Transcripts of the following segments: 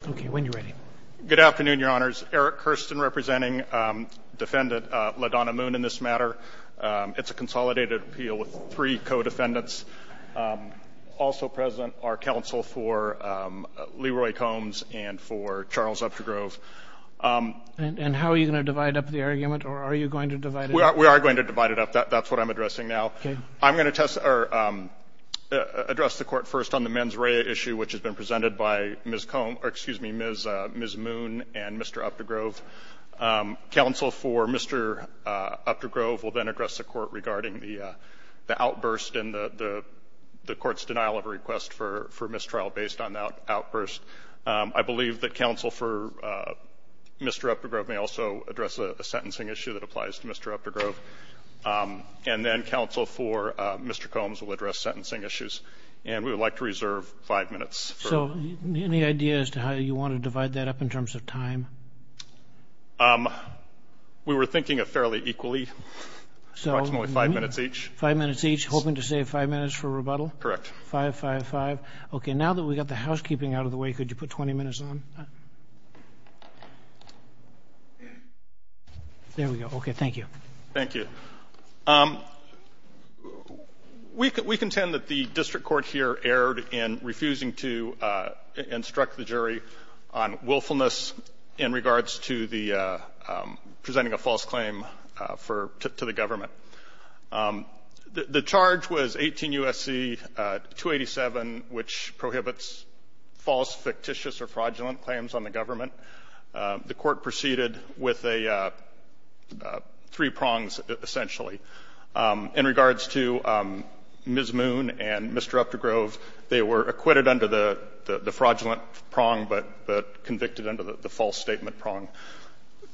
and for Charles Updegrove. And how are you going to divide up the argument, or are you going to divide it up? We are going to divide it up. That's what I'm addressing now. I'm going to address the court first on the mens rea issue, which has been presented by Ms. Moon and Mr. Updegrove. Counsel for Mr. Updegrove will then address the court regarding the outburst and the court's denial of a request for mistrial based on that outburst. I believe that counsel for Mr. Updegrove may also address a sentencing issue that applies to Mr. Updegrove. And then counsel for Mr. Combs will address sentencing issues. And we would like to reserve five minutes. So any idea as to how you want to divide that up in terms of time? We were thinking of fairly equally. Approximately five minutes each. Five minutes each, hoping to save five minutes for rebuttal? Correct. Five, five, five. Okay, now that we got the housekeeping out of the way, could you put 20 minutes on? There we go. Okay, thank you. Thank you. We contend that the district court here erred in refusing to instruct the jury on willfulness in regards to the presenting a false claim to the government. The charge was 18 U.S.C. 287, which prohibits false, fictitious, or fraudulent claims on the government. The court proceeded with three prongs, essentially. In regards to Ms. Moon and Mr. Updegrove, they were acquitted under the fraudulent prong, but convicted under the false statement prong.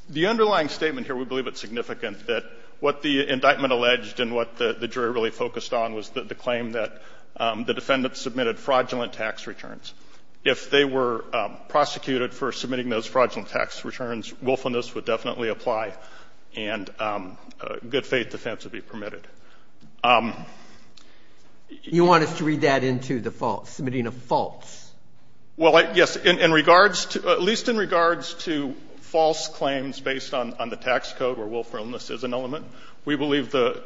The underlying statement here, we believe it's significant, that what the indictment alleged and what the jury really focused on was the claim that the defendant submitted fraudulent tax returns. If they were prosecuted for submitting those fraudulent tax returns, willfulness would definitely apply, and good faith defense would be permitted. You want us to read that into the false, submitting a false? Well, yes, in regards to, at least in regards to false claims based on the tax code, where willfulness is an element, we And when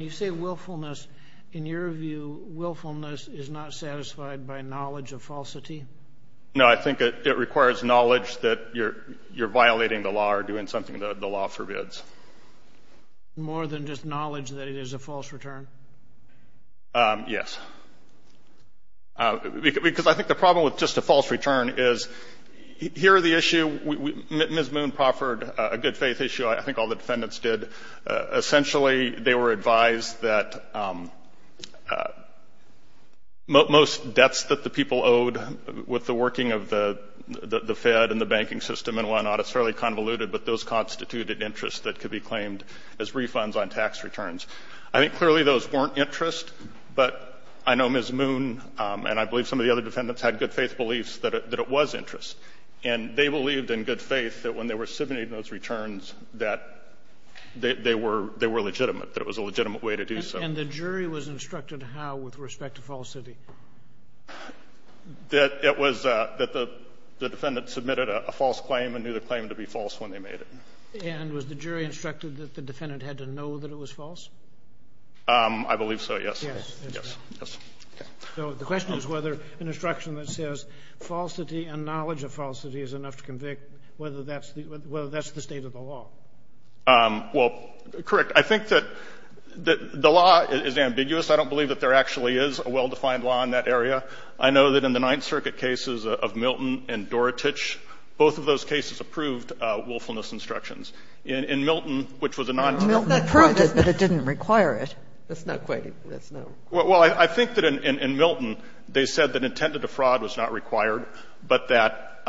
you say willfulness, in your view, willfulness is not satisfied by knowledge of falsity? No, I think it requires knowledge that you're violating the law or doing something that the law forbids. More than just knowledge that it is a false return? Yes. Because I think the problem with just a false return is, here the issue, Ms. Moon proffered a good advised that most debts that the people owed with the working of the Fed and the banking system and whatnot, it's fairly convoluted, but those constituted interest that could be claimed as refunds on tax returns. I think clearly those weren't interest, but I know Ms. Moon and I believe some of the other defendants had good faith beliefs that it was interest, and they believed in good faith that when they were submitting those returns that they were legitimate, that it was a legitimate way to do so. And the jury was instructed how with respect to falsity? That it was, that the defendant submitted a false claim and knew the claim to be false when they made it. And was the jury instructed that the defendant had to know that it was false? I believe so, yes. Yes. So the question is whether an instruction that says falsity and knowledge of falsity is enough to convict, whether that's the state of the law? Well, correct. I think that the law is ambiguous. I don't believe that there actually is a well-defined law in that area. I know that in the Ninth Circuit cases of Milton and Dorotich, both of those cases approved willfulness instructions. In Milton, which was a non-tentative case. Milton approved it, but it didn't require it. That's why I said that intent to defraud was not required, but that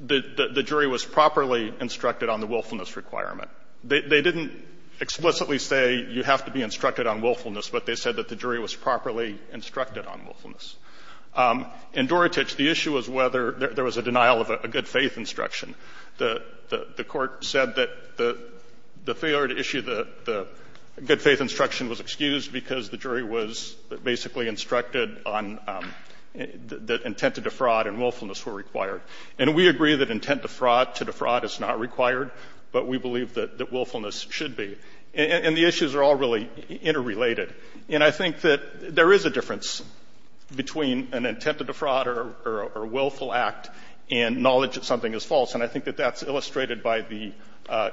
the jury was properly instructed on the willfulness requirement. They didn't explicitly say you have to be instructed on willfulness, but they said that the jury was properly instructed on willfulness. In Dorotich, the issue was whether there was a denial of a good faith instruction. The Court said that the failure to issue the good faith instruction was excused because the jury was basically instructed on the intent to defraud and willfulness were required. And we agree that intent to defraud is not required, but we believe that willfulness should be. And the issues are all really interrelated. And I think that there is a difference between an intent to defraud or a willful act and knowledge that something is false. And I think that that's illustrated by the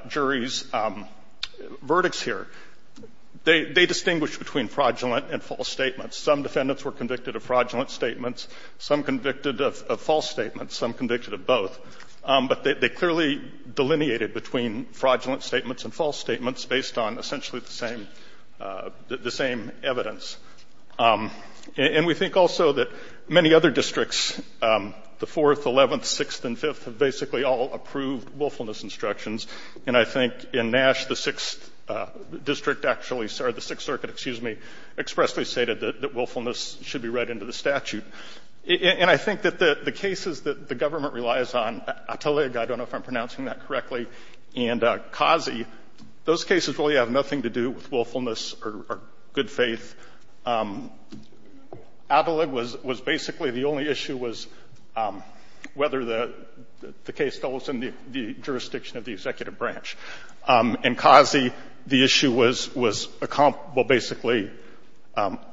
jury's verdicts here. They distinguish between fraudulent and false statements. Some defendants were convicted of fraudulent statements, some convicted of false statements, some convicted of both. But they clearly delineated between fraudulent statements and false statements based on essentially the same evidence. And we think also that many other districts, the 4th, 11th, 6th, and 5th, have basically all approved willfulness instructions. And I think in Nash, the 6th district actually, sorry, the 6th Circuit, excuse me, expressly stated that willfulness should be read into the statute. And I think that the cases that the government relies on, Atalig, I don't know if I'm pronouncing that correctly, and Kazi, those cases really have nothing to do with willfulness or good faith. Atalig was the executive branch. And Kazi, the issue was basically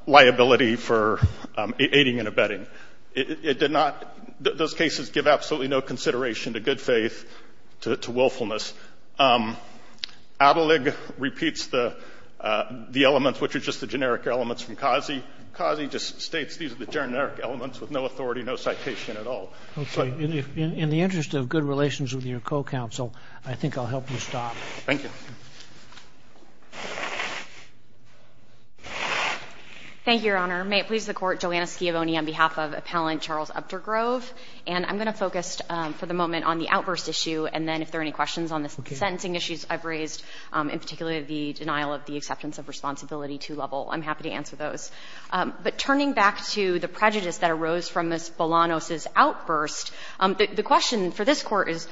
liability for aiding and abetting. It did not, those cases give absolutely no consideration to good faith, to willfulness. Atalig repeats the elements, which are just the generic elements from Kazi. Kazi just states these are the generic elements with no authority, no citation at all. I'm sorry. In the interest of good relations with your co-counsel, I think I'll help you stop. Thank you. Thank you, Your Honor. May it please the Court, Joanna Schiavone on behalf of Appellant Charles Uptergrove. And I'm going to focus for the moment on the outburst issue, and then if there are any questions on the sentencing issues I've raised, in particular the denial of the acceptance of responsibility to Lovell, I'm happy to answer those. The question for this Court is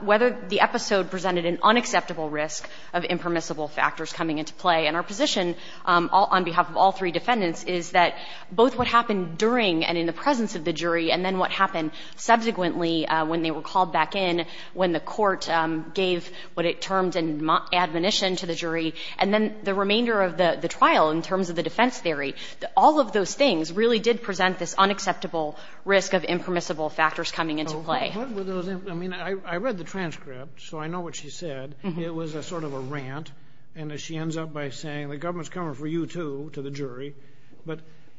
whether the episode presented an unacceptable risk of impermissible factors coming into play. And our position on behalf of all three defendants is that both what happened during and in the presence of the jury, and then what happened subsequently when they were called back in, when the Court gave what it termed an admonition to the jury, and then the remainder of the trial in terms of the defense theory, all of those things really did present this unacceptable risk of impermissible factors coming into play. What were those? I mean, I read the transcript, so I know what she said. It was a sort of a rant. And she ends up by saying, the government's coming for you, too, to the jury.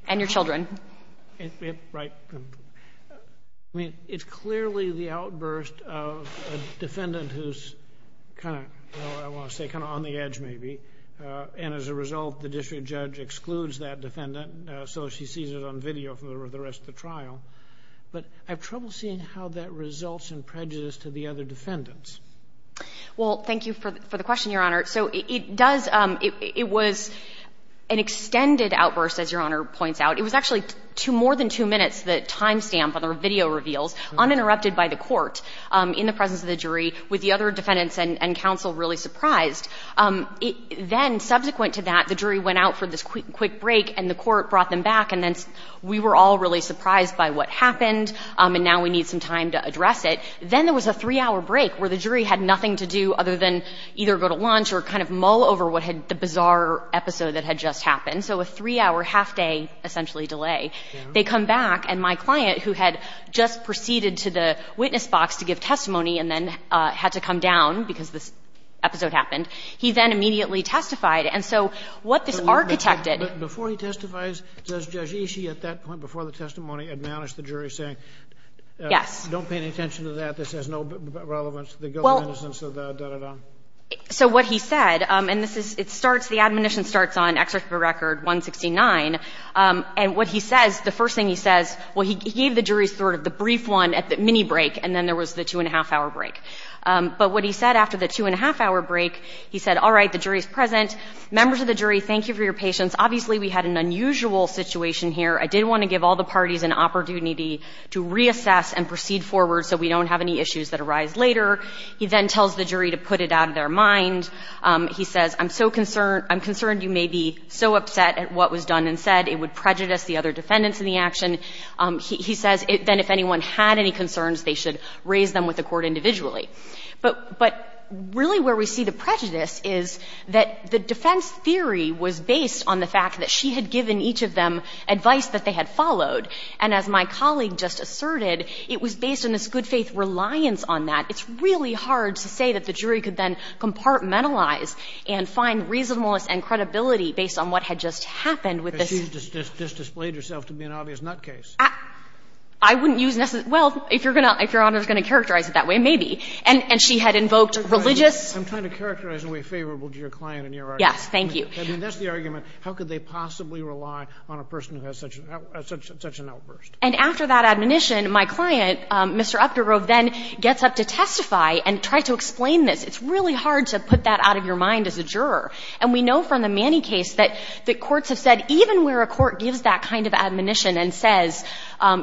And your children. Right. I mean, it's clearly the outburst of a defendant who's kind of, I want to say, kind of on the edge, maybe. And as a result, the district judge excludes that defendant, so she sees it on video for the rest of the trial. But I have trouble seeing how that results in prejudice to the other defendants. Well, thank you for the question, Your Honor. So it does, it was an extended outburst, as Your Honor points out. It was actually two, more than two minutes, the time stamp on the video reveals, uninterrupted by the Court, in the presence of the jury, with the other defendants and counsel really surprised. Then, subsequent to that, the jury went out for this quick break, and the Court brought them back, and then we were all really surprised by what happened, and now we need some time to address it. Then there was a three-hour break where the jury had nothing to do other than either go to lunch or kind of mull over what had, the bizarre episode that had just happened. So a three-hour, half-day, essentially, delay. They come back, and my client, who had just gone down, because this episode happened, he then immediately testified. And so what this architected — But before he testifies, does Judge Ishii, at that point, before the testimony, admonish the jury, saying — Yes. — don't pay any attention to that, this has no relevance to the government, in a sense, of the da-da-da? So what he said, and this is, it starts, the admonition starts on Excerpt of a Record 169, and what he says, the first thing he says, well, he gave the jury sort of the brief one at the mini-break, and then there was the two-and-a-half-hour break. But what he said after the two-and-a-half-hour break, he said, all right, the jury is present. Members of the jury, thank you for your patience. Obviously, we had an unusual situation here. I did want to give all the parties an opportunity to reassess and proceed forward so we don't have any issues that arise later. He then tells the jury to put it out of their mind. He says, I'm so concerned — I'm concerned you may be so upset at what was done and said it would prejudice the other defendants in the action. He says, then, if anyone had any concerns, they should raise them with the court individually. But really, where we see the prejudice is that the defense theory was based on the fact that she had given each of them advice that they had followed, and as my colleague just asserted, it was based on this good-faith reliance on that. It's really hard to say that the jury could then compartmentalize and find reasonableness and credibility based on what had just happened with this. So you just displayed yourself to be an obvious nutcase. I wouldn't use necess—well, if Your Honor is going to characterize it that way, maybe. And she had invoked religious — I'm trying to characterize in a way favorable to your client and your argument. Yes, thank you. That's the argument. How could they possibly rely on a person who has such an outburst? And after that admonition, my client, Mr. Updurove, then gets up to testify and tried to explain this. It's really hard to put that out of your mind as a juror. And we know from the Manny case that courts have said, even where a court gives that kind of admonition and says,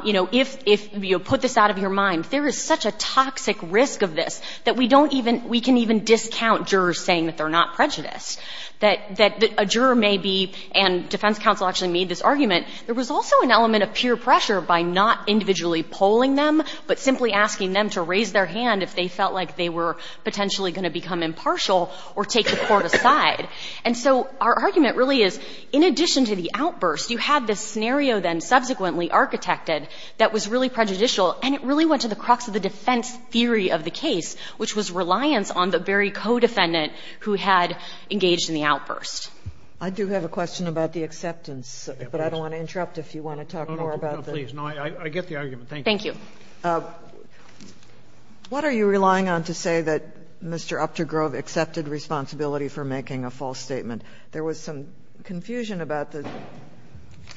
you know, if you put this out of your mind, there is such a toxic risk of this that we don't even — we can even discount jurors saying that they're not prejudiced. That a juror may be — and defense counsel actually made this argument — there was also an element of peer pressure by not individually polling them, but simply asking them to raise their hand if they felt like they were potentially going to become impartial or take the court side. And so our argument really is, in addition to the outburst, you had this scenario then subsequently architected that was really prejudicial, and it really went to the crux of the defense theory of the case, which was reliance on the very co-defendant who had engaged in the outburst. I do have a question about the acceptance, but I don't want to interrupt if you want to talk more about that. No, no, no, please. No, I get the argument. Thank you. Thank you. What are you relying on to say that Mr. Updurove accepted responsibility for making a false statement? There was some confusion about the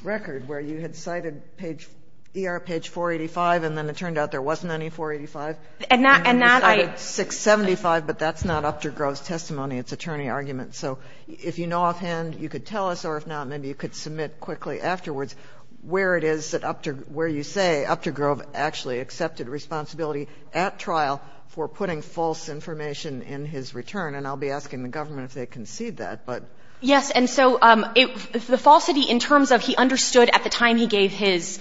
record where you had cited page — ER page 485, and then it turned out there wasn't any 485. And that — and that I — And you cited 675, but that's not Updurove's testimony. It's attorney argument. So if you know offhand, you could tell us, or if not, maybe you could submit quickly afterwards where it is that Updurove — where you say Updurove actually accepted responsibility at trial for putting false information in his return. And I'll be asking the government if they concede that, but — Yes. And so it — the falsity in terms of he understood at the time he gave his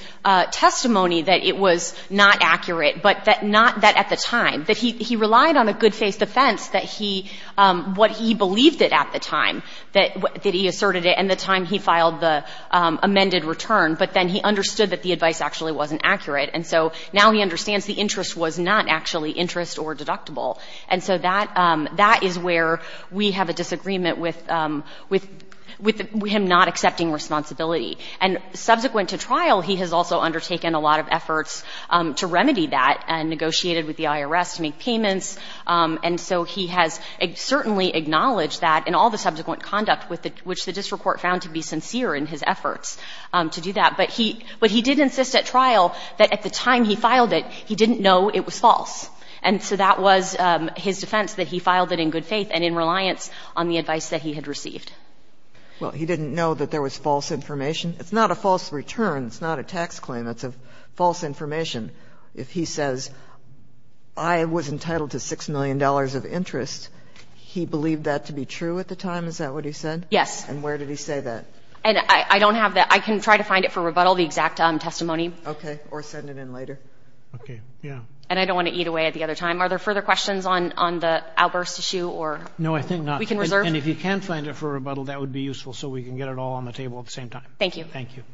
testimony that it was not accurate, but that not — that at the time, that he relied on a good-faced defense that he — what he believed it at the time that — that he asserted it and the time he filed the amended return. But then he understood that the advice actually wasn't accurate. And so now he understands the interest was not actually interest or deductible. And so that — that is where we have a disagreement with — with him not accepting responsibility. And subsequent to trial, he has also undertaken a lot of efforts to remedy that and negotiated with the IRS to make payments. And so he has certainly acknowledged that in all the subsequent conduct with the — which the district court found to be sincere in his efforts to do that. But he — but he did insist at trial that at the time he filed it, he didn't know it was false. And so that was his defense, that he filed it in good faith and in reliance on the advice that he had received. GOTTLIEB Well, he didn't know that there was false information? It's not a false return. It's not a tax claim. It's a false information. If he says, I was entitled to $6 million of interest, he believed that to be true at Is that what he said? MS. CARRINGTON Yes. MS. GOTTLIEB And where did he say that? CARRINGTON And I don't have that. I can try to find it for rebuttal, the exact testimony. MS. GOTTLIEB Okay. Or send it in later. MR. Are there further questions on the outburst issue? GOTTLIEB No, I think not. MS. CARRINGTON We can reserve. MR. GOTTLIEB And if you can find it for rebuttal, that would be useful so we can get it all on the table at the same time. MS. CARRINGTON Thank you. MR.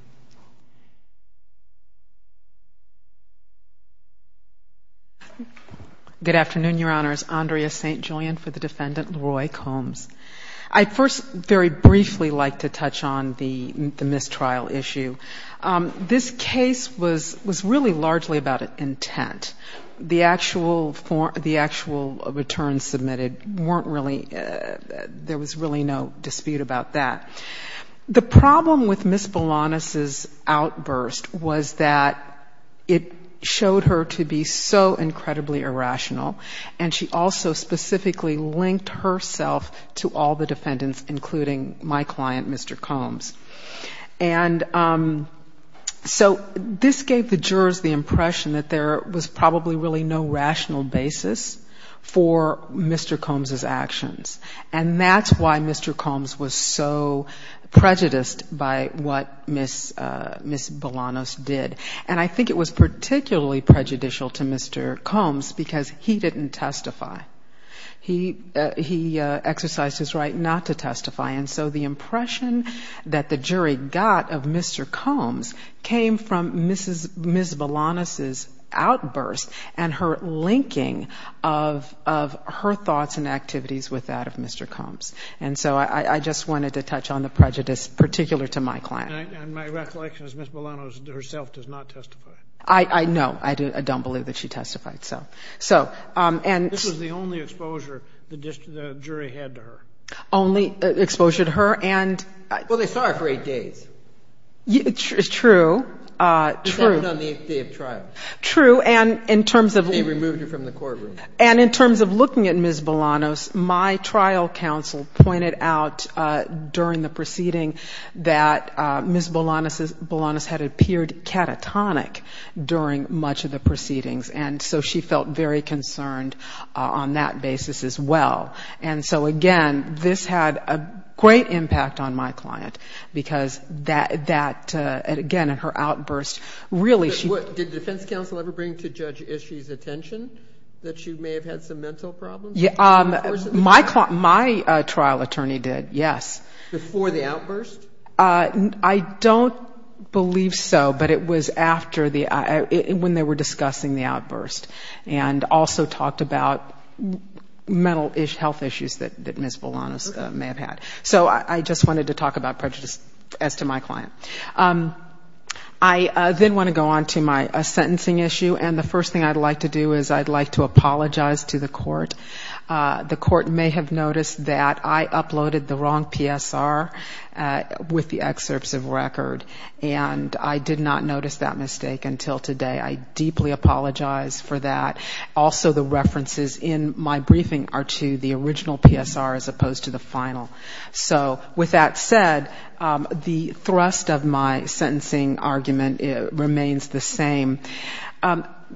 GOTTLIEB Thank you. MS. ST. JULIAN Good afternoon, Your Honors. Andrea St. Julian for the defendant, Leroy Combs. I'd first very briefly like to touch on the mistrial issue. This case was really largely about intent. The actual form, the actual returns submitted weren't really, there was really no dispute about that. The problem with Ms. Bolanos' outburst was that it showed her to be so incredibly irrational, and she also specifically linked herself to all the defendants, including my client, Mr. Combs. And so this gave the jurors the impression that there was probably really no rational basis for Mr. Combs' actions. And that's why Mr. Combs was so prejudiced by what Ms. Bolanos did. And I think it was particularly prejudicial to Mr. Combs because he didn't testify. He exercised his right not to testify. And so the impression that the jury got of Mr. Combs came from Ms. Bolanos' outburst and her linking of her thoughts and activities with that of Mr. Combs. And so I just wanted to touch on the prejudice particular to my client. JUDGE LEBEN And my recollection is Ms. Bolanos herself does not testify. ANDREA ST. JULIAN I know. I don't believe that she testified. So, and so... JUDGE LEBEN This was the only exposure the jury had to her. Only exposure to her and... JULIAN Well, they saw her for eight days. JUDGE LEBEN It's true. ANDREA ST. JULIAN Except on the eighth day of trial. JUDGE LEBEN True. And in terms of... ANDREA ST. JULIAN They removed her from the courtroom. JUDGE LEBEN And in terms of looking at Ms. Bolanos, my trial counsel pointed out during the proceeding that Ms. Bolanos had appeared catatonic during much of the proceedings. And so she felt very concerned on that basis as well. And so, again, this had a great impact on my client because that, again, in her outburst, really she... JUDGE LEBEN Did the defense counsel ever bring to Judge Ishii's attention that she may have had some mental problems? ANDREA ST. JULIAN Yeah, my trial attorney did, yes. JUDGE LEBEN Before the outburst? ANDREA ST. JULIAN I don't believe so, but it was after the, when they were discussing the outburst and also talked about mental health issues that Ms. Bolanos may have had. So I just wanted to talk about prejudice as to my client. I then want to go on to my sentencing issue. And the first thing I'd like to do is I'd like to apologize to the court. The court may have noticed that I uploaded the wrong PSR with the excerpts of record. And I did not notice that mistake until today. I deeply apologize for that. Also, the references in my briefing are to the original PSR as opposed to the final. So with that said, the thrust of my sentencing argument remains the same.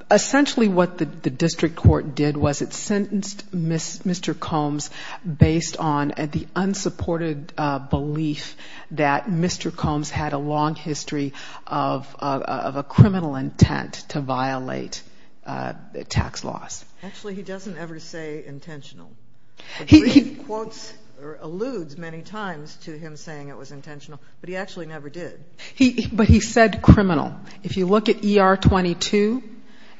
Essentially, what the district court did was it sentenced Mr. Combs based on the unsupported belief that Mr. Combs had a long history of a criminal intent to violate tax laws. JUDGE LEBEN Actually, he doesn't ever say intentional. The brief quotes alludes many times to him saying it was intentional, but he actually never did. ANDREA ST. JULIAN But he said criminal. If you look at ER 22,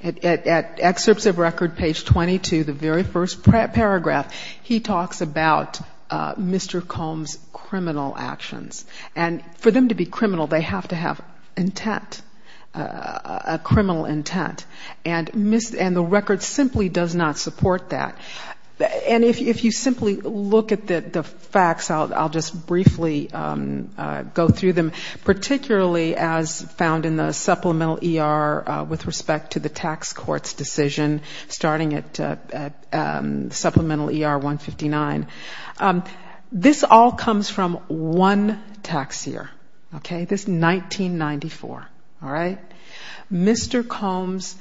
at excerpts of record page 22, the very first paragraph, he talks about Mr. Combs' criminal actions. And for them to be criminal, they have to have intent, a criminal intent. And the record simply does not support that. And if you simply look at the facts, I'll just briefly go through them, particularly as found in the supplemental ER with respect to the tax court's decision starting at supplemental ER 159. This all comes from one tax year, okay? This is 1994, all right? Mr. Combs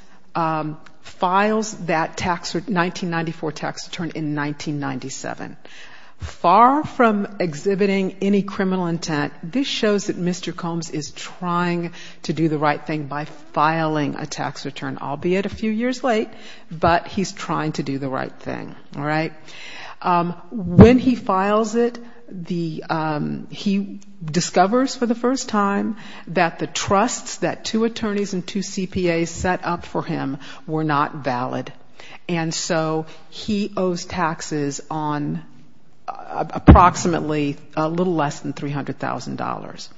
files that 1994 tax return in 1997. Far from exhibiting any criminal intent, this shows that Mr. Combs is trying to do the right thing by filing a tax return, albeit a few years late, but he's trying to do the right thing, all right? When he files it, he discovers for the first time that the trusts that two attorneys and two CPAs set up for him were not valid. And so he owes taxes on approximately a little less than $300,000.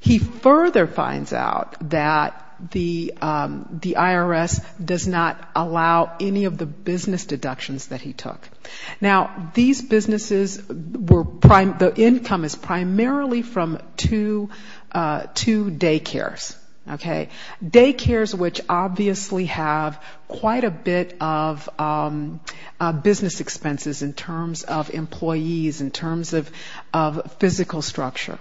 He further finds out that the IRS does not allow any of the business deductions that he took. Now, these businesses were, the income is primarily from two daycares, okay? Quite a bit of business expenses in terms of employees, in terms of physical structure.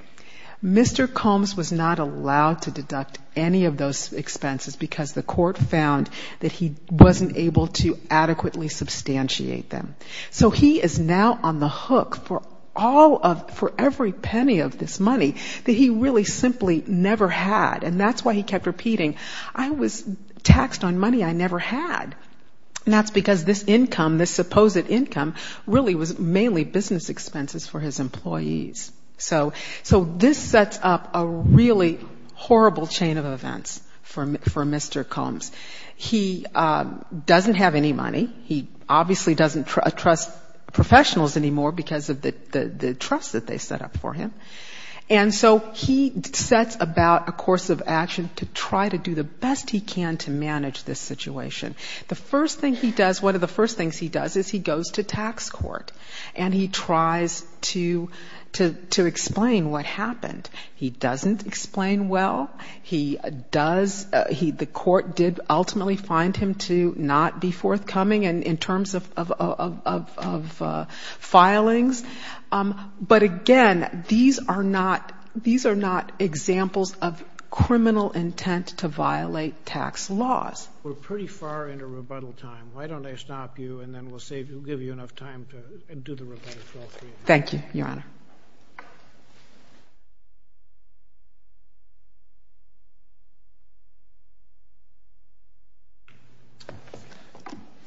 Mr. Combs was not allowed to deduct any of those expenses because the court found that he wasn't able to adequately substantiate them. So he is now on the hook for all of, for every penny of this money that he really simply never had, and that's why he kept repeating, I was taxed on money I never had. And that's because this income, this supposed income really was mainly business expenses for his employees. So this sets up a really horrible chain of events for Mr. Combs. He doesn't have any money. He obviously doesn't trust professionals anymore because of the trust that they set up for him. And so he sets about a course of action to try to do the best he can to manage this situation. The first thing he does, one of the first things he does is he goes to tax court and he tries to explain what happened. He doesn't explain well. He does, he, the court did ultimately find him to not be forthcoming in terms of filings. But again, these are not, these are not examples of criminal intent to violate tax laws. We're pretty far into rebuttal time. Why don't I stop you and then we'll save, we'll give you enough time to do the rebuttal for all three of you. Thank you, Your Honor.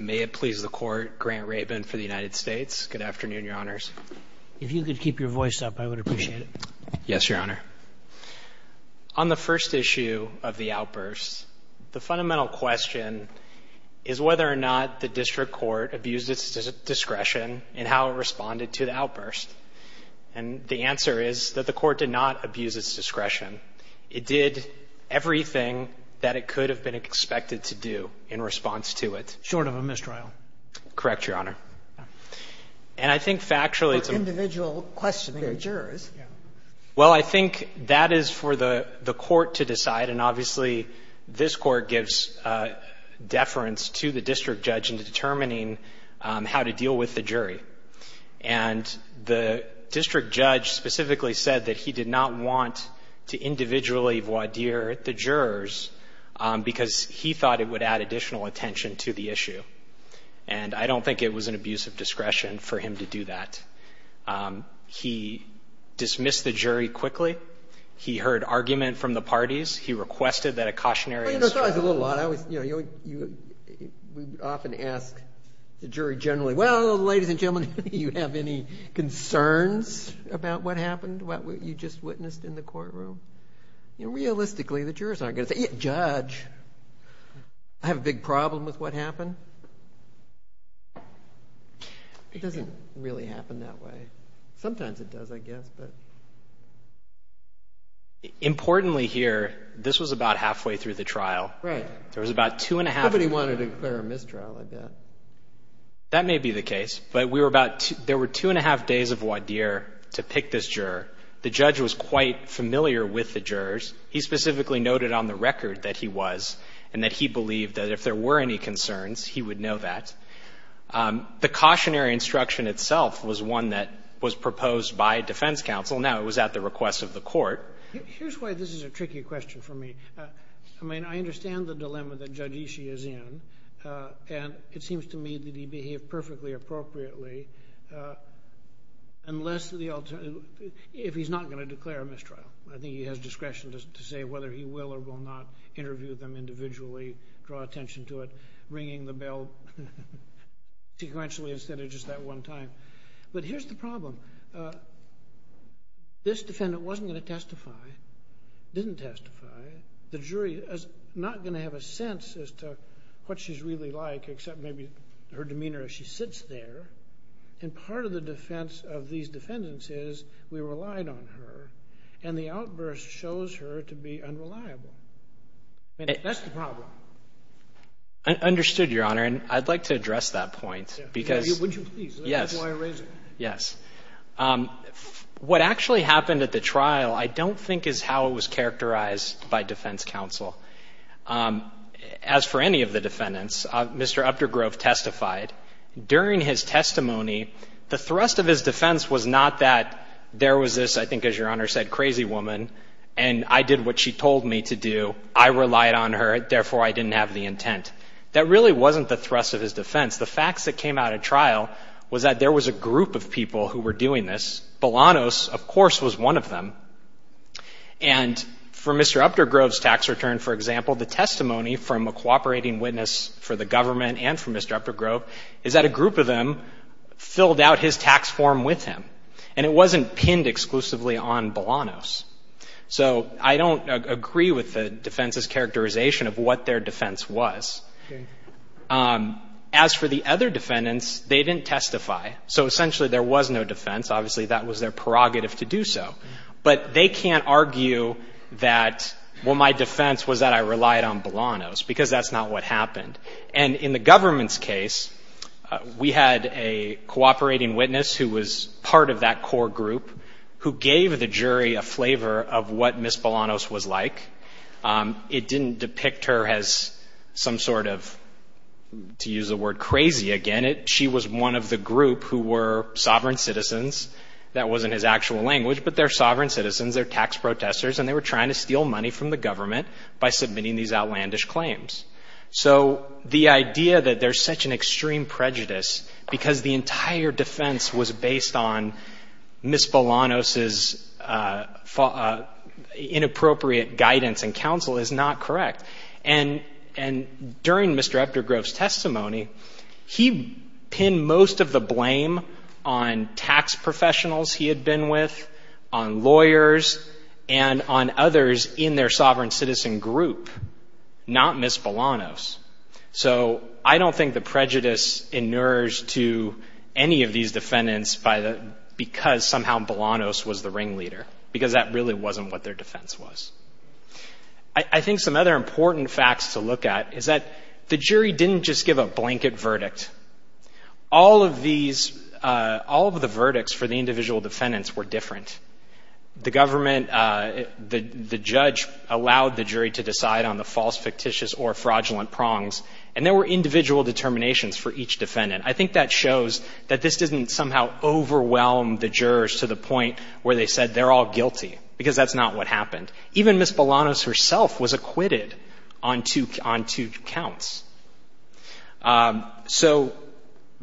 May it please the Court, Grant Rabin for the United States. Good afternoon, Your Honors. If you could keep your voice up, I would appreciate it. Yes, Your Honor. On the first issue of the outburst, the fundamental question is whether or not the district court abused its discretion in how it responded to the outburst. And the answer is that the court did not abuse its discretion. It did everything that it could have been expected to do in response to it. Short of a mistrial. Correct, Your Honor. And I think factually it's a... For individual questioning of jurors. Well, I think that is for the court to decide. And obviously, this court gives deference to the district judge in determining how to deal with the jury. And the district judge specifically said that he did not want to individually voir dire the jurors because he thought it would add additional attention to the issue. And I don't think it was an abuse of discretion for him to do that. He dismissed the jury quickly. He heard argument from the parties. He requested that a cautionary... Well, you know, it's always a little odd. We often ask the jury generally, well, ladies and gentlemen, do you have any concerns about what happened, what you just witnessed in the courtroom? Realistically, the jurors aren't going to say, judge, I have a big problem with what happened. It doesn't really happen that way. Sometimes it does, I guess, but... Importantly here, this was about halfway through the trial. Right. There was about two and a half... Nobody wanted to declare a mistrial, I bet. That may be the case, but we were about... There were two and a half days of voir dire to pick this juror. The judge was quite familiar with the jurors. He specifically noted on the record that he was and that he believed that if there were any concerns, he would know that. The cautionary instruction itself was one that was proposed by defense counsel. Now, it was at the request of the court. Here's why this is a tricky question for me. I mean, I understand the dilemma that Judge Ishii is in, and it seems to me that he behaved perfectly appropriately unless the alternative... If he's not going to declare a mistrial. I think he has discretion to say whether he will or will not interview them individually, draw attention to it, ringing the bell sequentially instead of just that one time. But here's the problem. This defendant wasn't going to testify, didn't testify. The jury is not going to have a sense as to what she's really like, except maybe her demeanor as she sits there. And part of the defense of these defendants is we relied on her, and the outburst shows her to be unreliable. I mean, that's the problem. I understood, Your Honor. And I'd like to address that point because... Would you please? Yes. That's why I raised it. Yes. What actually happened at the trial, I don't think is how it was characterized by defense counsel. As for any of the defendants, Mr. Updegrove testified. During his testimony, the thrust of his defense was not that there was this, I think, as Your Honor said, crazy woman, and I did what she told me to do. I relied on her. Therefore, I didn't have the intent. That really wasn't the thrust of his defense. The facts that came out at trial was that there was a group of people who were doing this. Bolanos, of course, was one of them. And for Mr. Updegrove's tax return, for example, the testimony from a cooperating witness for the government and for Mr. Updegrove is that a group of them filled out his tax form with him. And it wasn't pinned exclusively on Bolanos. So I don't agree with the defense's characterization of what their defense was. As for the other defendants, they didn't testify. So essentially, there was no defense. Obviously, that was their prerogative to do so. But they can't argue that, well, my defense was that I relied on Bolanos because that's not what happened. And in the government's case, we had a cooperating witness who was part of that core group who gave the jury a flavor of what Ms. Bolanos was like. It didn't depict her as some sort of, to use the word, crazy again. She was one of the group who were sovereign citizens. That wasn't his actual language. But they're sovereign citizens. They're tax protesters. And they were trying to steal money from the government by submitting these outlandish claims. So the idea that there's such an extreme prejudice because the entire defense was based on Ms. Bolanos's inappropriate guidance and counsel is not correct. And during Mr. Epdergrove's testimony, he pinned most of the blame on tax professionals he had been with, on lawyers, and on others in their sovereign citizen group, not Ms. Bolanos. So I don't think the prejudice inures to any of these defendants because somehow Bolanos was the ringleader, because that really wasn't what their defense was. I think some other important facts to look at is that the jury didn't just give a blanket verdict. All of these, all of the verdicts for the individual defendants were different. The government, the judge allowed the jury to decide on the false, fictitious, or fraudulent prongs. And there were individual determinations for each defendant. I think that shows that this didn't somehow overwhelm the jurors to the point where they said they're all guilty because that's not what happened. Even Ms. Bolanos herself was acquitted on two counts. So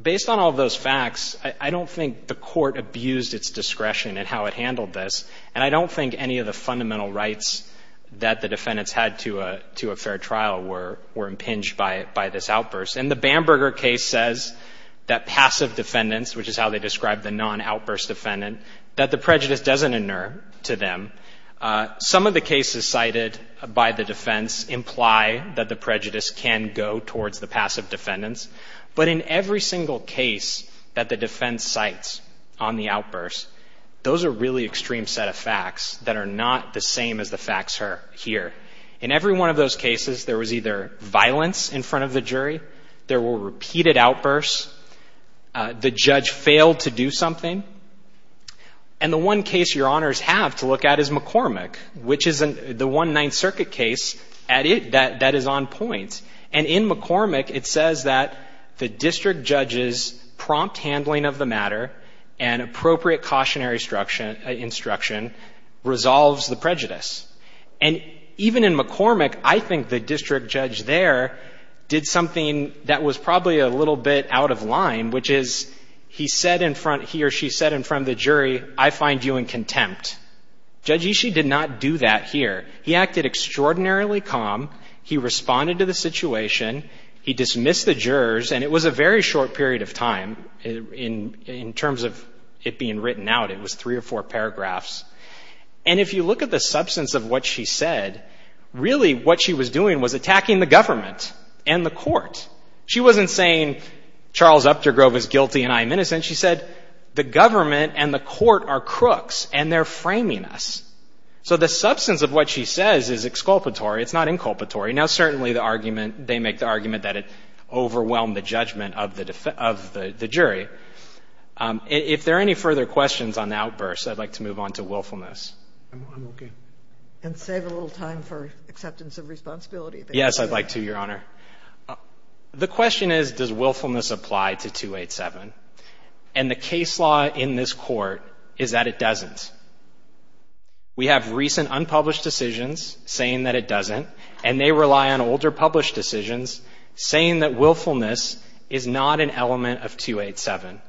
based on all of those facts, I don't think the court abused its discretion in how it handled this. And I don't think any of the fundamental rights that the defendants had to a fair trial were impinged by this outburst. And the Bamberger case says that passive defendants, which is how they describe the non-outburst defendant, that the prejudice doesn't inure to them. Some of the cases cited by the defense imply that the prejudice can go towards the passive defendants. But in every single case that the defense cites on the outburst, those are really extreme set of facts that are not the same as the facts here. In every one of those cases, there was either violence in front of the jury, there were repeated outbursts, the judge failed to do something. And the one case your honors have to look at is McCormick, which is the One Ninth Circuit case that is on point. And in McCormick, it says that the district judge's prompt handling of the matter and appropriate cautionary instruction resolves the prejudice. And even in McCormick, I think the district judge there did something that was probably a little bit out of line, which is he said in front, he or she said in front of the jury, I find you in contempt. Judge Ishii did not do that here. He acted extraordinarily calm. He responded to the situation. He dismissed the jurors. And it was a very short period of time in terms of it being written out. It was three or four paragraphs. And if you look at the substance of what she said, really what she was doing was attacking the government and the court. She wasn't saying Charles Updegrove is guilty and I'm innocent. She said the government and the court are crooks and they're framing us. So the substance of what she says is exculpatory. It's not inculpatory. Now, certainly the argument, they make the argument that it overwhelmed the judgment of the jury. If there are any further questions on the outburst, I'd like to move on to willfulness. I'm okay. And save a little time for acceptance of responsibility. Yes, I'd like to, Your Honor. The question is, does willfulness apply to 287? And the case law in this court is that it doesn't. We have recent unpublished decisions saying that it doesn't, and they rely on older published decisions saying that willfulness is not an element of 287.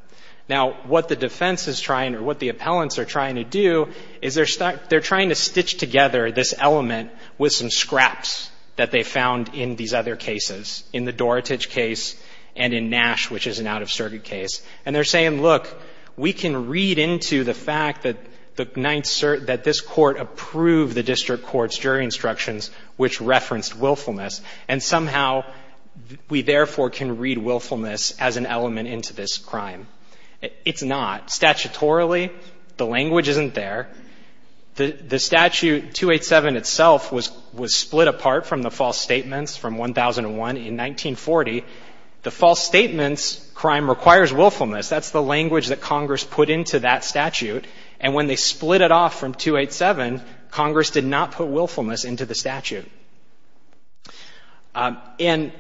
Now, what the defense is trying or what the appellants are trying to do is they're trying to stitch together this element with some scraps that they found in these other cases, in the Dorotage case and in Nash, which is an out-of-circuit case. And they're saying, look, we can read into the fact that this court approved the district court's jury instructions, which referenced willfulness, and somehow we therefore can read willfulness as an element into this crime. It's not. Statutorily, the language isn't there. The statute 287 itself was split apart from the false statements from 1001 in 1940. The false statements crime requires willfulness. That's the language that Congress put into that statute. And when they split it off from 287, Congress did not put willfulness into the statute. And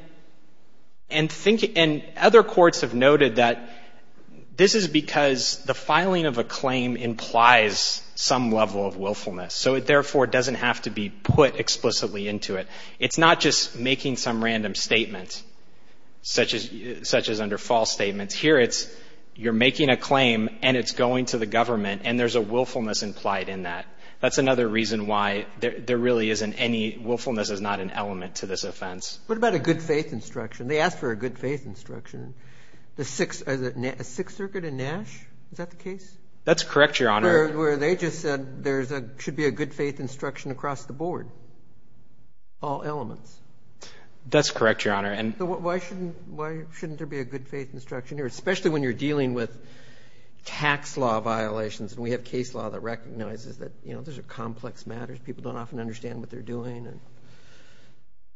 other courts have noted that this is because the filing of a claim implies some level of willfulness, so it therefore doesn't have to be put explicitly into it. It's not just making some random statement. Such as under false statements. Here, you're making a claim, and it's going to the government, and there's a willfulness implied in that. That's another reason why there really isn't any willfulness as not an element to this offense. What about a good faith instruction? They asked for a good faith instruction. The Sixth Circuit in Nash? Is that the case? That's correct, Your Honor. Where they just said there should be a good faith instruction across the board. All elements. That's correct, Your Honor. So why shouldn't there be a good faith instruction here? Especially when you're dealing with tax law violations. And we have case law that recognizes that those are complex matters. People don't often understand what they're doing.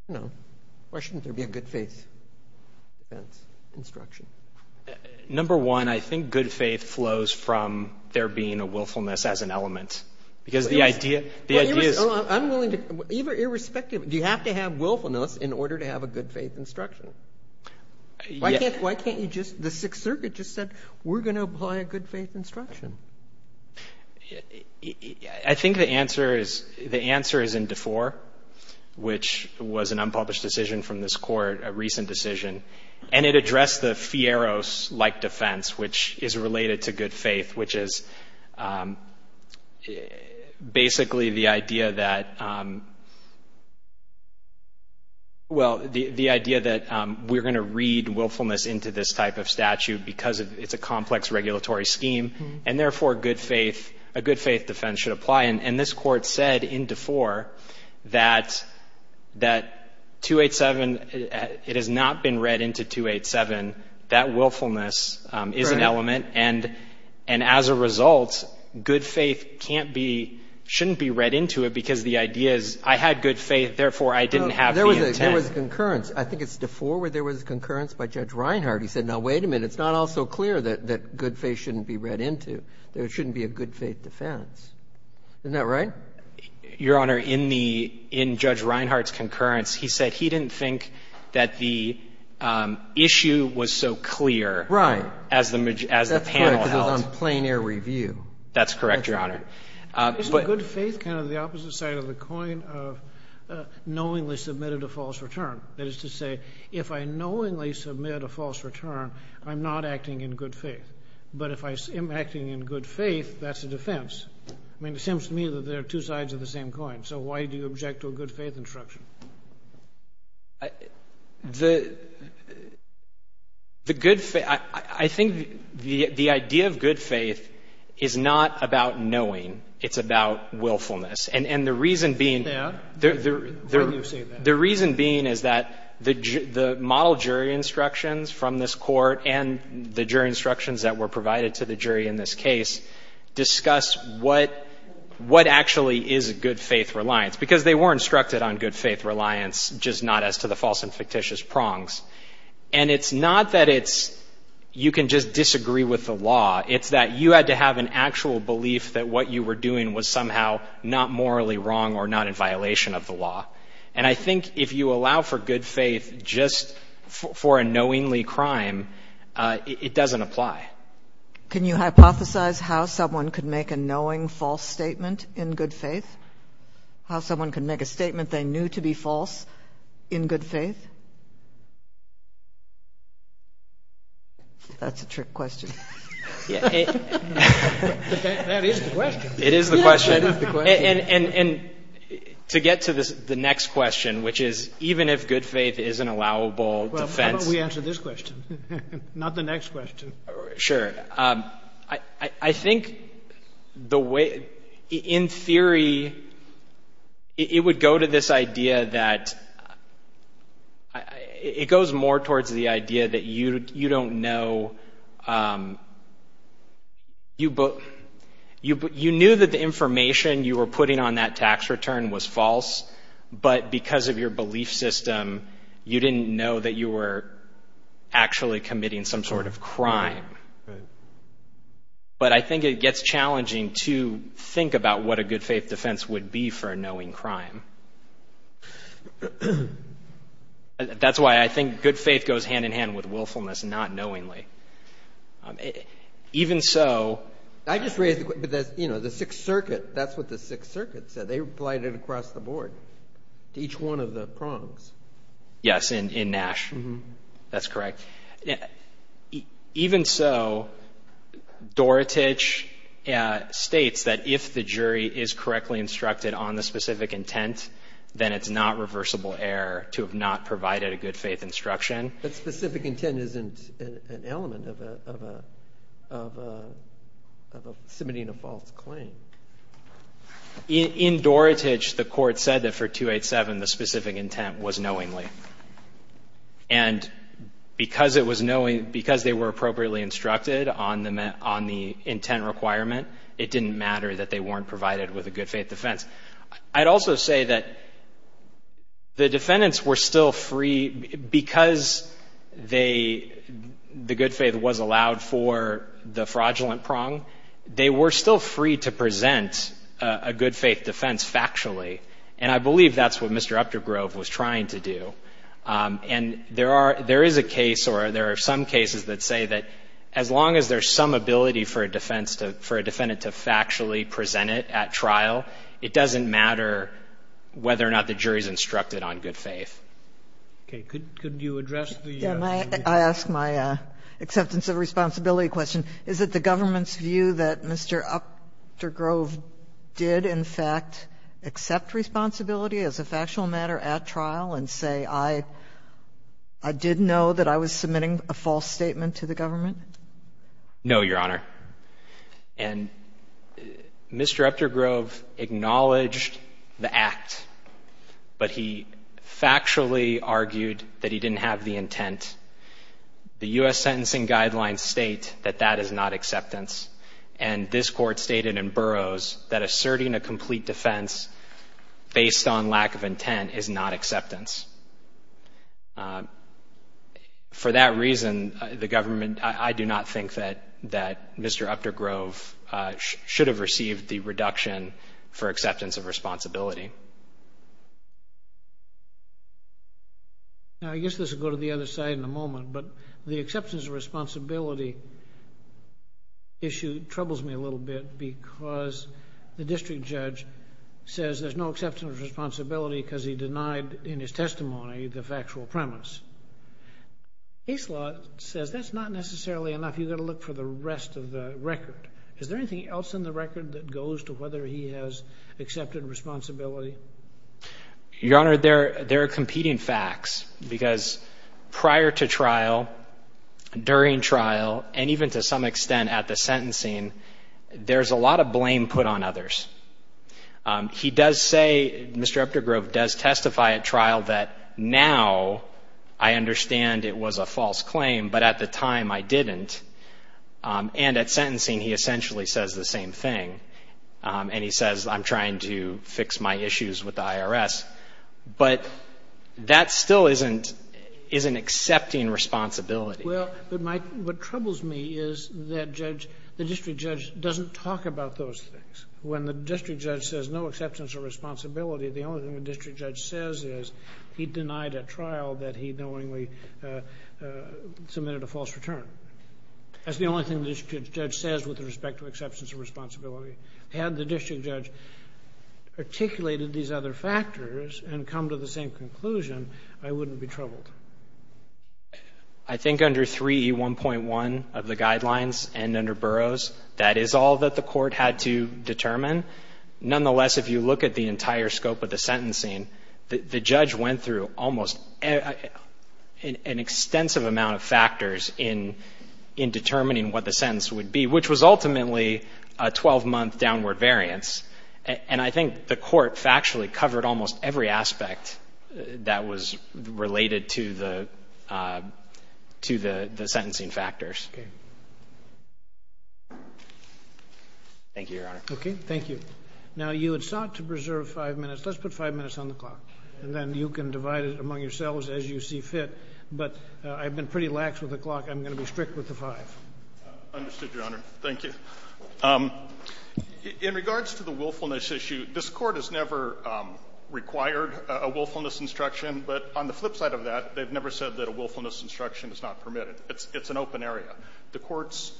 Why shouldn't there be a good faith defense instruction? Number one, I think good faith flows from there being a willfulness as an element. Well, I'm willing to, irrespective, do you have to have willfulness in order to have a good faith instruction? The Sixth Circuit just said, we're going to apply a good faith instruction. I think the answer is in DeFore, which was an unpublished decision from this court, a recent decision. And it addressed the Fierro's-like defense, which is related to good faith, which is basically the idea that we're going to read willfulness into this type of statute because it's a complex regulatory scheme. And therefore, a good faith defense should apply. And this court said in DeFore that 287, it has not been read into 287. That willfulness is an element. And as a result, good faith can't be, shouldn't be read into it because the idea is I had good faith, therefore, I didn't have the intent. There was concurrence. I think it's DeFore where there was concurrence by Judge Reinhardt. He said, now, wait a minute. It's not also clear that good faith shouldn't be read into. There shouldn't be a good faith defense. Isn't that right? Your Honor, in Judge Reinhardt's concurrence, he said he didn't think that the issue was so clear. Right. As the panel held. Because it was on plein air review. That's correct, Your Honor. Isn't good faith kind of the opposite side of the coin of knowingly submitted a false return? That is to say, if I knowingly submit a false return, I'm not acting in good faith. But if I am acting in good faith, that's a defense. I mean, it seems to me that there are two sides of the same coin. So why do you object to a good faith instruction? I think the idea of good faith is not about knowing. It's about willfulness. And the reason being is that the model jury instructions from this court and the jury instructions that were provided to the jury in this case discuss what actually is a good faith reliance. Because they were instructed on good faith reliance, just not as to the false and fictitious prongs. And it's not that you can just disagree with the law. It's that you had to have an actual belief that what you were doing was somehow not morally wrong or not in violation of the law. And I think if you allow for good faith just for a knowingly crime, it doesn't apply. Can you hypothesize how someone could make a knowing false statement in good faith? How someone could make a statement they knew to be false in good faith? That's a trick question. That is the question. It is the question. That is the question. And to get to the next question, which is even if good faith is an allowable defense. Why don't we answer this question, not the next question? Sure. I think in theory, it would go to this idea that it goes more towards the idea that you don't know. You knew that the information you were putting on that tax return was false. But because of your belief system, you didn't know that you were actually committing some sort of crime. But I think it gets challenging to think about what a good faith defense would be for a knowing crime. That's why I think good faith goes hand in hand with willfulness, not knowingly. Even so. I just raised the question. But that's, you know, the Sixth Circuit. That's what the Sixth Circuit said. They applied it across the board to each one of the prongs. Yes, in Nash. That's correct. Yeah, even so, Dorotich states that if the jury is correctly instructed on the specific intent, then it's not reversible error to have not provided a good faith instruction. That specific intent isn't an element of a submitting a false claim. In Dorotich, the court said that for 287, the specific intent was knowingly. And because it was knowing, because they were appropriately instructed on the intent requirement, it didn't matter that they weren't provided with a good faith defense. I'd also say that the defendants were still free because they, the good faith was allowed for the fraudulent prong. They were still free to present a good faith defense factually. And I believe that's what Mr. Updegrove was trying to do. And there are, there is a case or there are some cases that say that as long as there's some ability for a defense to, for a defendant to factually present it at trial, it doesn't matter whether or not the jury's instructed on good faith. Okay. Could you address the. Yeah, I ask my acceptance of responsibility question. Is it the government's view that Mr. Updegrove did in fact accept responsibility as a factual matter at trial and say, I, I did know that I was submitting a false statement to the government? No, Your Honor. And Mr. Updegrove acknowledged the act, but he factually argued that he didn't have the intent. The U.S. Sentencing Guidelines state that that is not acceptance. And this court stated in Burroughs that asserting a complete defense based on lack of intent is not acceptance. For that reason, the government, I do not think that, that Mr. Updegrove should have received the reduction for acceptance of responsibility. Now, I guess this will go to the other side in a moment, but the acceptance of responsibility issue troubles me a little bit because the district judge says there's no acceptance of responsibility because he denied in his testimony the factual premise. Ace law says that's not necessarily enough. You've got to look for the rest of the record. Is there anything else in the record that goes to whether he has accepted responsibility Your Honor, there are competing facts because prior to trial, during trial, and even to some extent at the sentencing, there's a lot of blame put on others. He does say, Mr. Updegrove does testify at trial that now I understand it was a false claim, but at the time I didn't. And at sentencing, he essentially says the same thing. And he says I'm trying to fix my issues with the IRS, but that still isn't accepting responsibility. Well, what troubles me is that the district judge doesn't talk about those things. When the district judge says no acceptance of responsibility, the only thing the district judge says is he denied at trial that he knowingly submitted a false return. That's the only thing the district judge says with respect to acceptance of responsibility. Had the district judge articulated these other factors and come to the same conclusion, I wouldn't be troubled. I think under 3E1.1 of the guidelines and under Burroughs, that is all that the court had to determine. Nonetheless, if you look at the entire scope of the sentencing, the judge went through almost an extensive amount of factors in determining what the sentence would be, which was ultimately a 12-month downward variance. And I think the court factually covered almost every aspect that was related to the sentencing Thank you, Your Honor. Okay. Thank you. Now, you had sought to preserve five minutes. Let's put five minutes on the clock, and then you can divide it among yourselves as you see fit. But I've been pretty lax with the clock. I'm going to be strict with the five. Understood, Your Honor. Thank you. In regards to the willfulness issue, this Court has never required a willfulness instruction. But on the flip side of that, they've never said that a willfulness instruction is not permitted. It's an open area. The courts,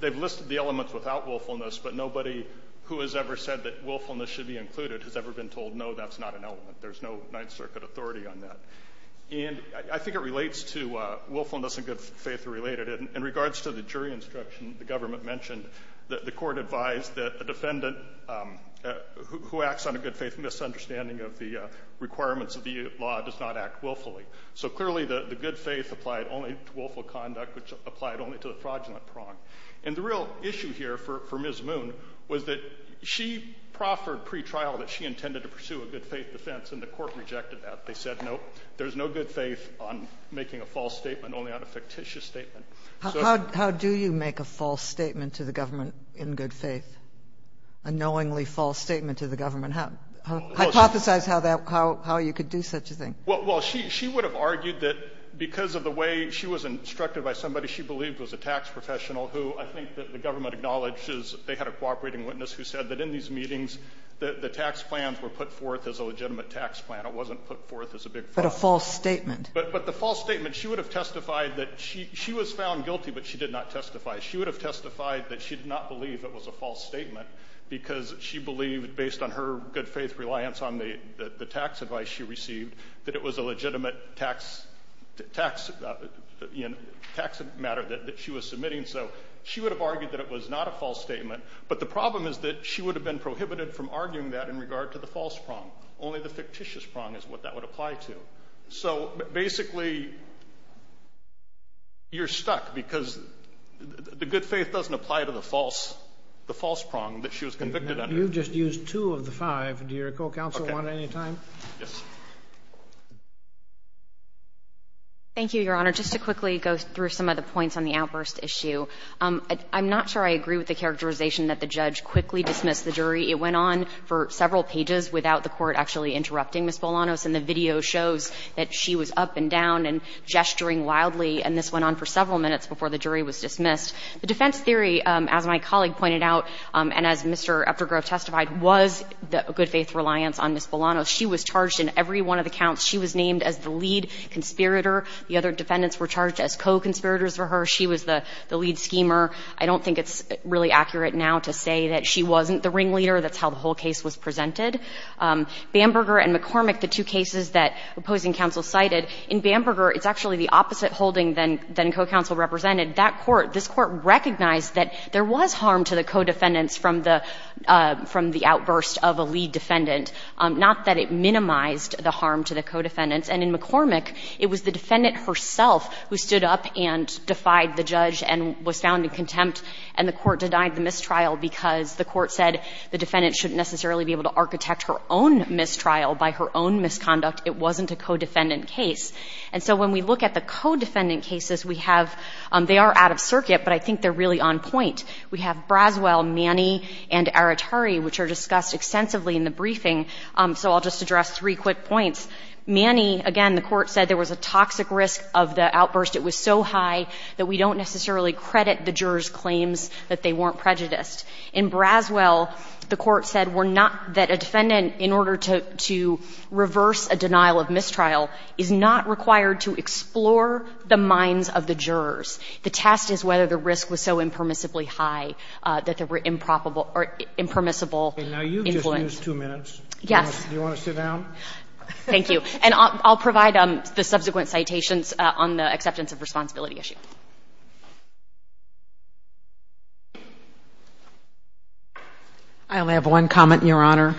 they've listed the elements without willfulness, but nobody who has ever said that willfulness should be included has ever been told, no, that's not an element. There's no Ninth Circuit authority on that. And I think it relates to willfulness and good faith are related. In regards to the jury instruction, the government mentioned that the Court advised that a defendant who acts on a good faith misunderstanding of the requirements of the law does not act willfully. So clearly, the good faith applied only to willful conduct, which applied only to the fraudulent prong. And the real issue here for Ms. Moon was that she proffered pre-trial that she intended to pursue a good faith defense, and the Court rejected that. They said, no, there's no good faith on making a false statement, only on a fictitious statement. How do you make a false statement to the government in good faith, a knowingly false statement to the government? Hypothesize how you could do such a thing. Well, she would have argued that because of the way she was instructed by somebody she believed was a tax professional who I think that the government acknowledges they had a cooperating witness who said that in these meetings, the tax plans were put forth as a legitimate tax plan. It wasn't put forth as a big fraud. But a false statement. But the false statement, she would have testified that she was found guilty, but she did not testify. She would have testified that she did not believe it was a false statement because she believed based on her good faith reliance on the tax advice she received, that it was a legitimate tax matter that she was submitting. So she would have argued that it was not a false statement. But the problem is that she would have been prohibited from arguing that in regard to the false prong. Only the fictitious prong is what that would apply to. So basically, you're stuck because the good faith doesn't apply to the false prong that she was convicted under. You've just used two of the five. Do your co-counsel want any time? Yes. Thank you, Your Honor. Just to quickly go through some of the points on the outburst issue, I'm not sure I agree with the characterization that the judge quickly dismissed the jury. It went on for several pages without the Court actually interrupting Ms. Bolanos, and the video shows that she was up and down and gesturing wildly. And this went on for several minutes before the jury was dismissed. The defense theory, as my colleague pointed out, and as Mr. Eptigrove testified, was the good faith reliance on Ms. Bolanos. She was charged in every one of the counts. She was named as the lead conspirator. The other defendants were charged as co-conspirators for her. She was the lead schemer. I don't think it's really accurate now to say that she wasn't the ringleader. That's how the whole case was presented. Bamberger and McCormick, the two cases that opposing counsel cited, in Bamberger, it's actually the opposite holding than co-counsel represented. That court, this court recognized that there was harm to the co-defendants from the outburst of a lead defendant, not that it minimized the harm to the co-defendants. And in McCormick, it was the defendant herself who stood up and defied the judge and was found in contempt, and the court denied the mistrial because the court said the defendant shouldn't necessarily be able to architect her own mistrial by her own misconduct. It wasn't a co-defendant case. And so when we look at the co-defendant cases, we have, they are out of circuit, but I think they're really on point. We have Braswell, Manny, and Aratari, which are discussed extensively in the briefing. So I'll just address three quick points. Manny, again, the court said there was a toxic risk of the outburst. It was so high that we don't necessarily credit the jurors' claims that they weren't prejudiced. In Braswell, the court said we're not, that a defendant, in order to reverse a denial of mistrial, is not required to explore the minds of the jurors. The test is whether the risk was so impermissibly high that there were improbable or impermissible influence. Roberts. Now, you've just used two minutes. Yes. Do you want to sit down? Thank you. And I'll provide the subsequent citations on the acceptance of responsibility issue. I only have one comment, Your Honor.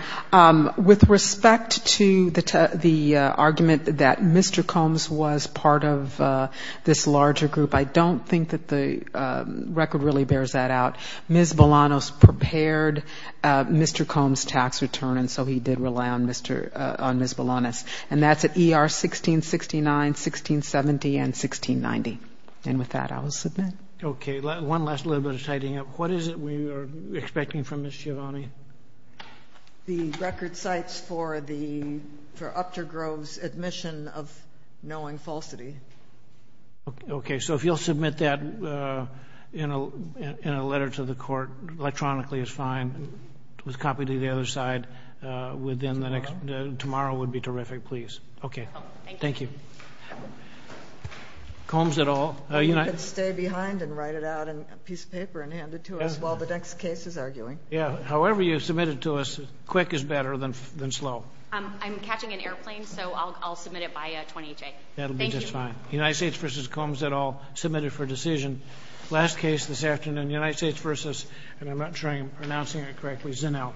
With respect to the argument that Mr. Combs was part of this larger group, I don't think that the record really bears that out. Ms. Bolanos prepared Mr. Combs' tax return, and so he did rely on Ms. Bolanos. And that's at ER 1669, 1670, and 1690. And with that, I will submit. Okay. One last little bit of tidying up. What is it we are expecting from Ms. Giovanni? The record cites for the, for Upter Grove's admission of knowing falsity. Okay. So if you'll submit that in a letter to the court electronically is fine, with copy to the other side within the next, tomorrow would be terrific. Okay. Thank you. Combs et al. You can stay behind and write it out in a piece of paper and hand it to us while the next case is arguing. Yeah. However you've submitted to us, quick is better than slow. I'm catching an airplane, so I'll submit it by 20 J. That'll be just fine. United States versus Combs et al. Submitted for decision. Last case this afternoon, United States versus, and I'm not sure I'm pronouncing it correctly, Zinow.